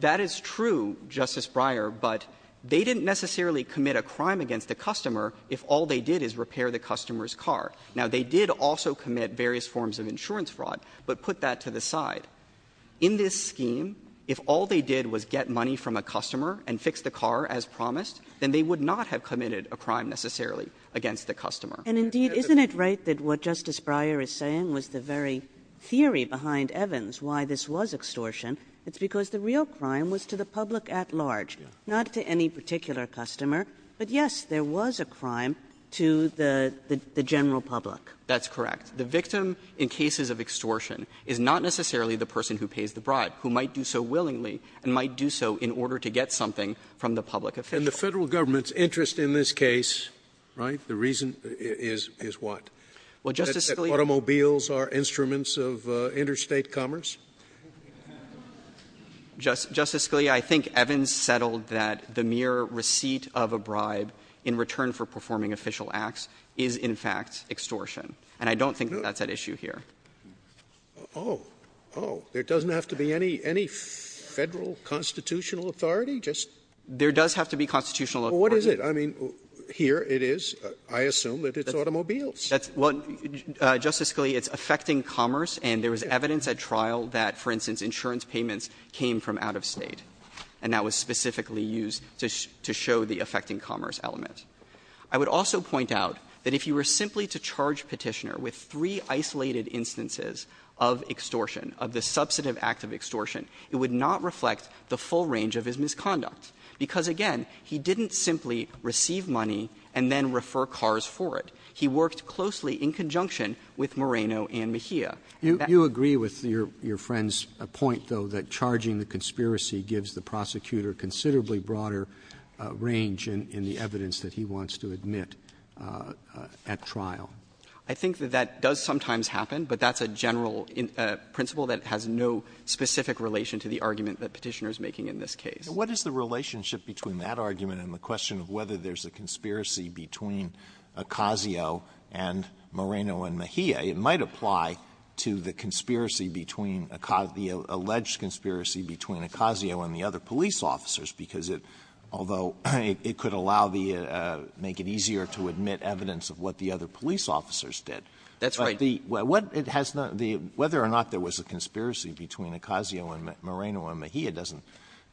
That is true, Justice Breyer, but they didn't necessarily commit a crime against the customer if all they did is repair the customer's car. Now, they did also commit various forms of insurance fraud, but put that to the side. In this scheme, if all they did was get money from a customer and fix the car as promised, then they would not have committed a crime necessarily against the customer. And indeed, isn't it right that what Justice Breyer is saying was the very theory behind Evans why this was extortion? It's because the real crime was to the public at large, not to any particular customer, but, yes, there was a crime to the general public. That's correct. The victim in cases of extortion is not necessarily the person who pays the bribe, who might do so willingly and might do so in order to get something from the public official. And the Federal Government's interest in this case, right, the reason is what? Well, Justice Scalia ‑‑ Is it that automobiles are instruments of interstate commerce? Justice Scalia, I think Evans settled that the mere receipt of a bribe in return for performing official acts is, in fact, extortion. And I don't think that's at issue here. Oh. Oh. There doesn't have to be any Federal constitutional authority? Just ‑‑ There does have to be constitutional authority. Well, what is it? I mean, here it is. I assume that it's automobiles. That's ‑‑ Well, Justice Scalia, it's affecting commerce, and there was evidence at trial that, for instance, insurance payments came from out of State, and that was specifically used to show the affecting commerce element. I would also point out that if you were simply to charge Petitioner with three isolated instances of extortion, of the substantive act of extortion, it would not reflect the full range of his misconduct. Because, again, he didn't simply receive money and then refer cars for it. He worked closely in conjunction with Moreno and Mejia. You agree with your friend's point, though, that charging the conspiracy gives the prosecutor considerably broader range in the evidence that he wants to admit at trial? I think that that does sometimes happen, but that's a general principle that has no specific relation to the argument that Petitioner is making in this case. What is the relationship between that argument and the question of whether there's a conspiracy between Ocasio and Moreno and Mejia? It might apply to the conspiracy between ‑‑ the alleged conspiracy between Ocasio and the other police officers, because it ‑‑ although it could allow the ‑‑ make it easier to admit evidence of what the other police officers did. That's right. But the ‑‑ what it has not ‑‑ the ‑‑ whether or not there was a conspiracy between Ocasio and Moreno and Mejia doesn't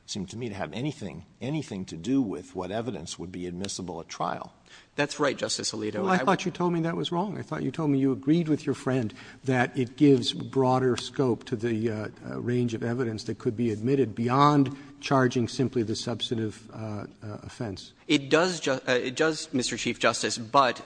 seem to me to have anything ‑‑ anything to do with what evidence would be admissible at trial. That's right, Justice Alito. I thought you told me that was wrong. I thought you told me you agreed with your friend that it gives broader scope to the range of evidence that could be admitted beyond charging simply the substantive offense. It does, Mr. Chief Justice, but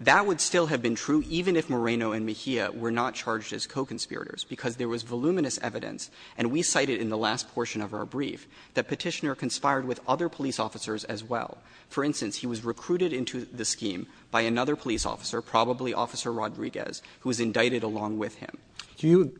that would still have been true even if Moreno and Mejia were not charged as co-conspirators, because there was voluminous evidence, and we cited in the last portion of our brief that Petitioner conspired with other police officers as well. For instance, he was recruited into the scheme by another police officer, probably Officer Rodriguez, who was indicted along with him. Do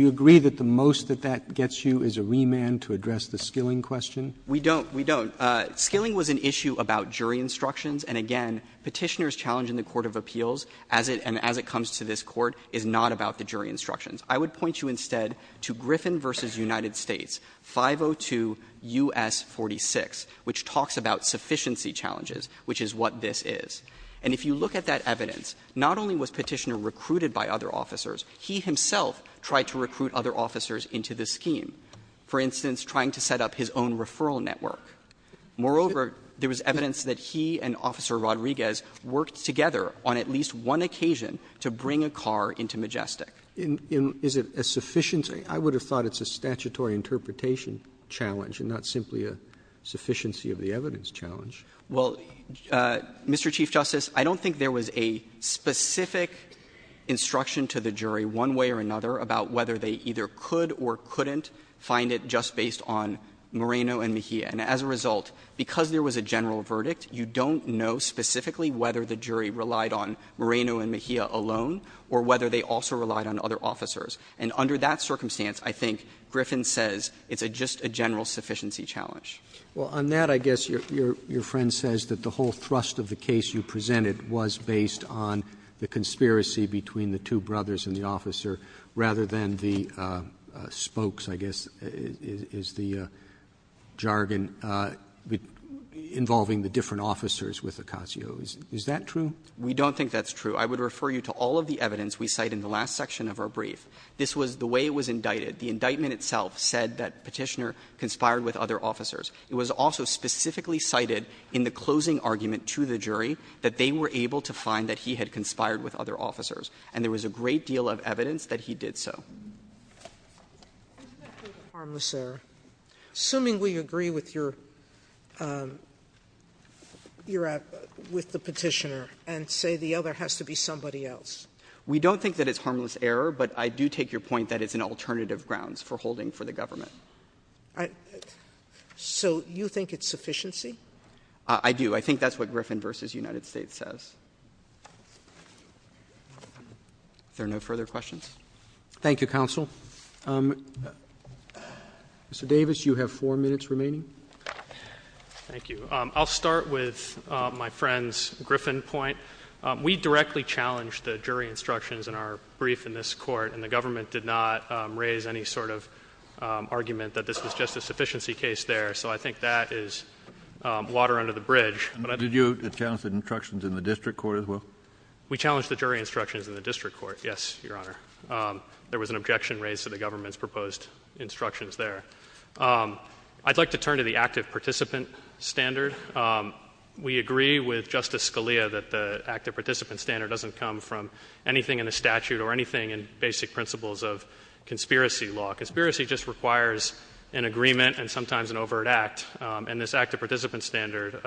you agree that the most that that gets you is a remand to address the Skilling question? We don't. We don't. Skilling was an issue about jury instructions, and again, Petitioner's challenge in the court of appeals as it ‑‑ and as it comes to this Court is not about the jury instructions. I would point you instead to Griffin v. United States 502 U.S. 46, which talks about sufficiency challenges, which is what this is. And if you look at that evidence, not only was Petitioner recruited by other officers, he himself tried to recruit other officers into the scheme, for instance, trying to set up his own referral network. Moreover, there was evidence that he and Officer Rodriguez worked together on at least one occasion to bring a car into Majestic. Is it a sufficiency ‑‑ I would have thought it's a statutory interpretation challenge and not simply a sufficiency of the evidence challenge. Well, Mr. Chief Justice, I don't think there was a specific instruction to the jury one way or another about whether they either could or couldn't find it just based on Moreno and Mejia. And as a result, because there was a general verdict, you don't know specifically whether the jury relied on Moreno and Mejia alone or whether they also relied on other officers. And under that circumstance, I think Griffin says it's just a general sufficiency challenge. Well, on that, I guess your friend says that the whole thrust of the case you presented was based on the conspiracy between the two brothers and the officer, rather than the spokes, I guess, is the jargon involving the different officers with Acasio. Is that true? We don't think that's true. I would refer you to all of the evidence we cite in the last section of our brief. This was the way it was indicted. The indictment itself said that Petitioner conspired with other officers. It was also specifically cited in the closing argument to the jury that they were able to find that he had conspired with other officers, and there was a great deal of evidence that he did so. I think that's a harmless error. Assuming we agree with the Petitioner and say the other has to be somebody else. We don't think that it's a harmless error, but I do take your point that it's an alternative grounds for holding for the government. So you think it's sufficiency? I do. I think that's what Griffin v. United States says. Are there no further questions? Thank you, Counsel. Mr. Davis, you have four minutes remaining. Thank you. I'll start with my friend's Griffin point. We directly challenged the jury instructions in our brief in this court, and the government did not raise any sort of argument that this was just a sufficiency case there. So I think that is water under the bridge. Did you challenge the instructions in the district court as well? We challenged the jury instructions in the district court. Yes, Your Honor. There was an objection raised to the government's proposed instructions there. I'd like to turn to the active participant standard. We agree with Justice Scalia that the active participant standard doesn't come from anything in the statute or anything in basic principles of conspiracy law. Conspiracy just requires an agreement and sometimes an overt act, and this active participant standard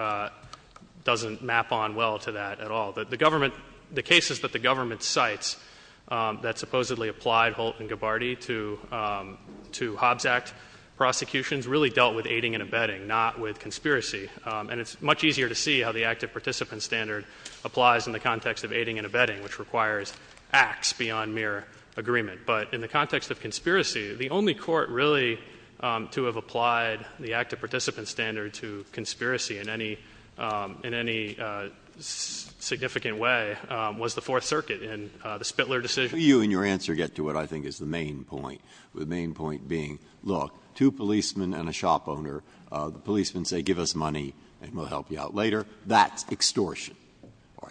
doesn't map on well to that at all. The government, the cases that the government cites that supposedly applied Holt and Gabbardi to Hobbs Act prosecutions really dealt with aiding and abetting, not with conspiracy. And it's much easier to see how the active participant standard applies in the context of aiding and abetting, which requires acts beyond mere agreement. But in the context of conspiracy, the only court really to have applied the active participant standard to conspiracy in any significant way was the Fourth Circuit in the Spitler decision. You and your answer get to what I think is the main point, the main point being, look, two policemen and a shop owner. The policemen say, give us money and we'll help you out later. That's extortion.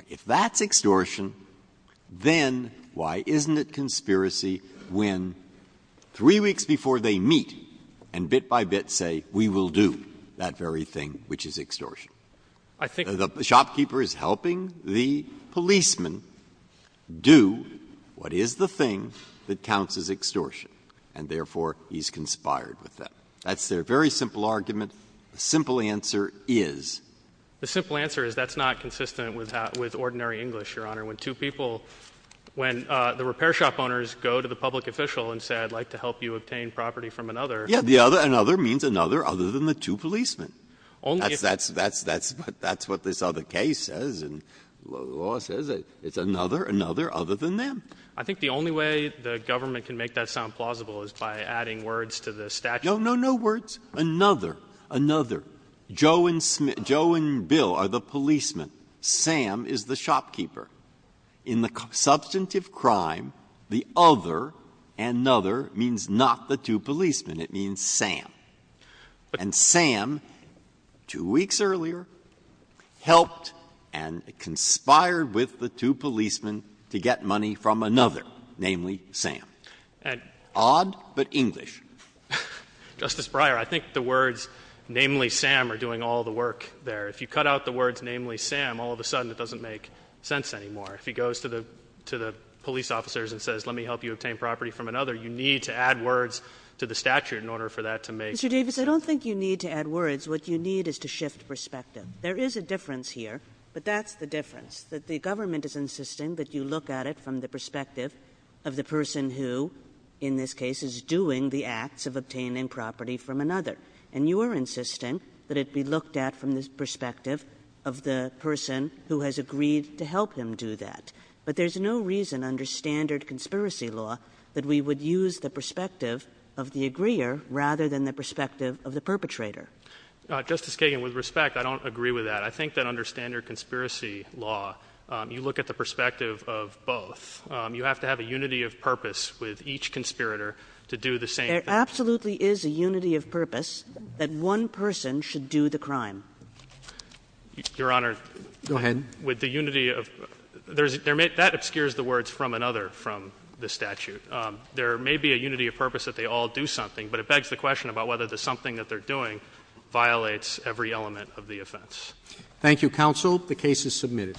If that's extortion, then why isn't it conspiracy when three weeks before they meet and bit by bit say, we will do that very thing, which is extortion? The shopkeeper is helping the policeman do what is the thing that counts as extortion, and therefore he's conspired with them. That's their very simple argument. The simple answer is? The simple answer is that's not consistent with ordinary English, Your Honor. When two people, when the repair shop owners go to the public official and say, I'd like to help you obtain property from another. Yeah, the other, another means another other than the two policemen. That's what this other case says and law says. It's another, another other than them. I think the only way the government can make that sound plausible is by adding words to the statute. No, no, no words. Another, another. Joe and Bill are the policemen. Sam is the shopkeeper. In the substantive crime, the other, another means not the two policemen. It means Sam. And Sam, two weeks earlier, helped and conspired with the two policemen to get money from another, namely Sam. Odd, but English. Justice Breyer, I think the words namely Sam are doing all the work there. If you cut out the words namely Sam, all of a sudden it doesn't make sense anymore. If he goes to the police officers and says, let me help you obtain property from another, you need to add words to the statute in order for that to make sense. Mr. Davis, I don't think you need to add words. What you need is to shift perspective. There is a difference here, but that's the difference. That the government is insisting that you look at it from the perspective of the person who, in this case, is doing the acts of obtaining property from another. And you are insisting that it be looked at from the perspective of the person who has agreed to help him do that. But there's no reason under standard conspiracy law that we would use the perspective of the aggrier rather than the perspective of the perpetrator. Justice Kagan, with respect, I don't agree with that. I think that under standard conspiracy law, you look at the perspective of both. You have to have a unity of purpose with each conspirator to do the same. There absolutely is a unity of purpose that one person should do the crime. Your Honor. Go ahead. With the unity of, that obscures the words from another from the statute. There may be a unity of purpose that they all do something, but it begs the question about whether the something that they're doing violates every element of the offense. Thank you, counsel. The case is submitted.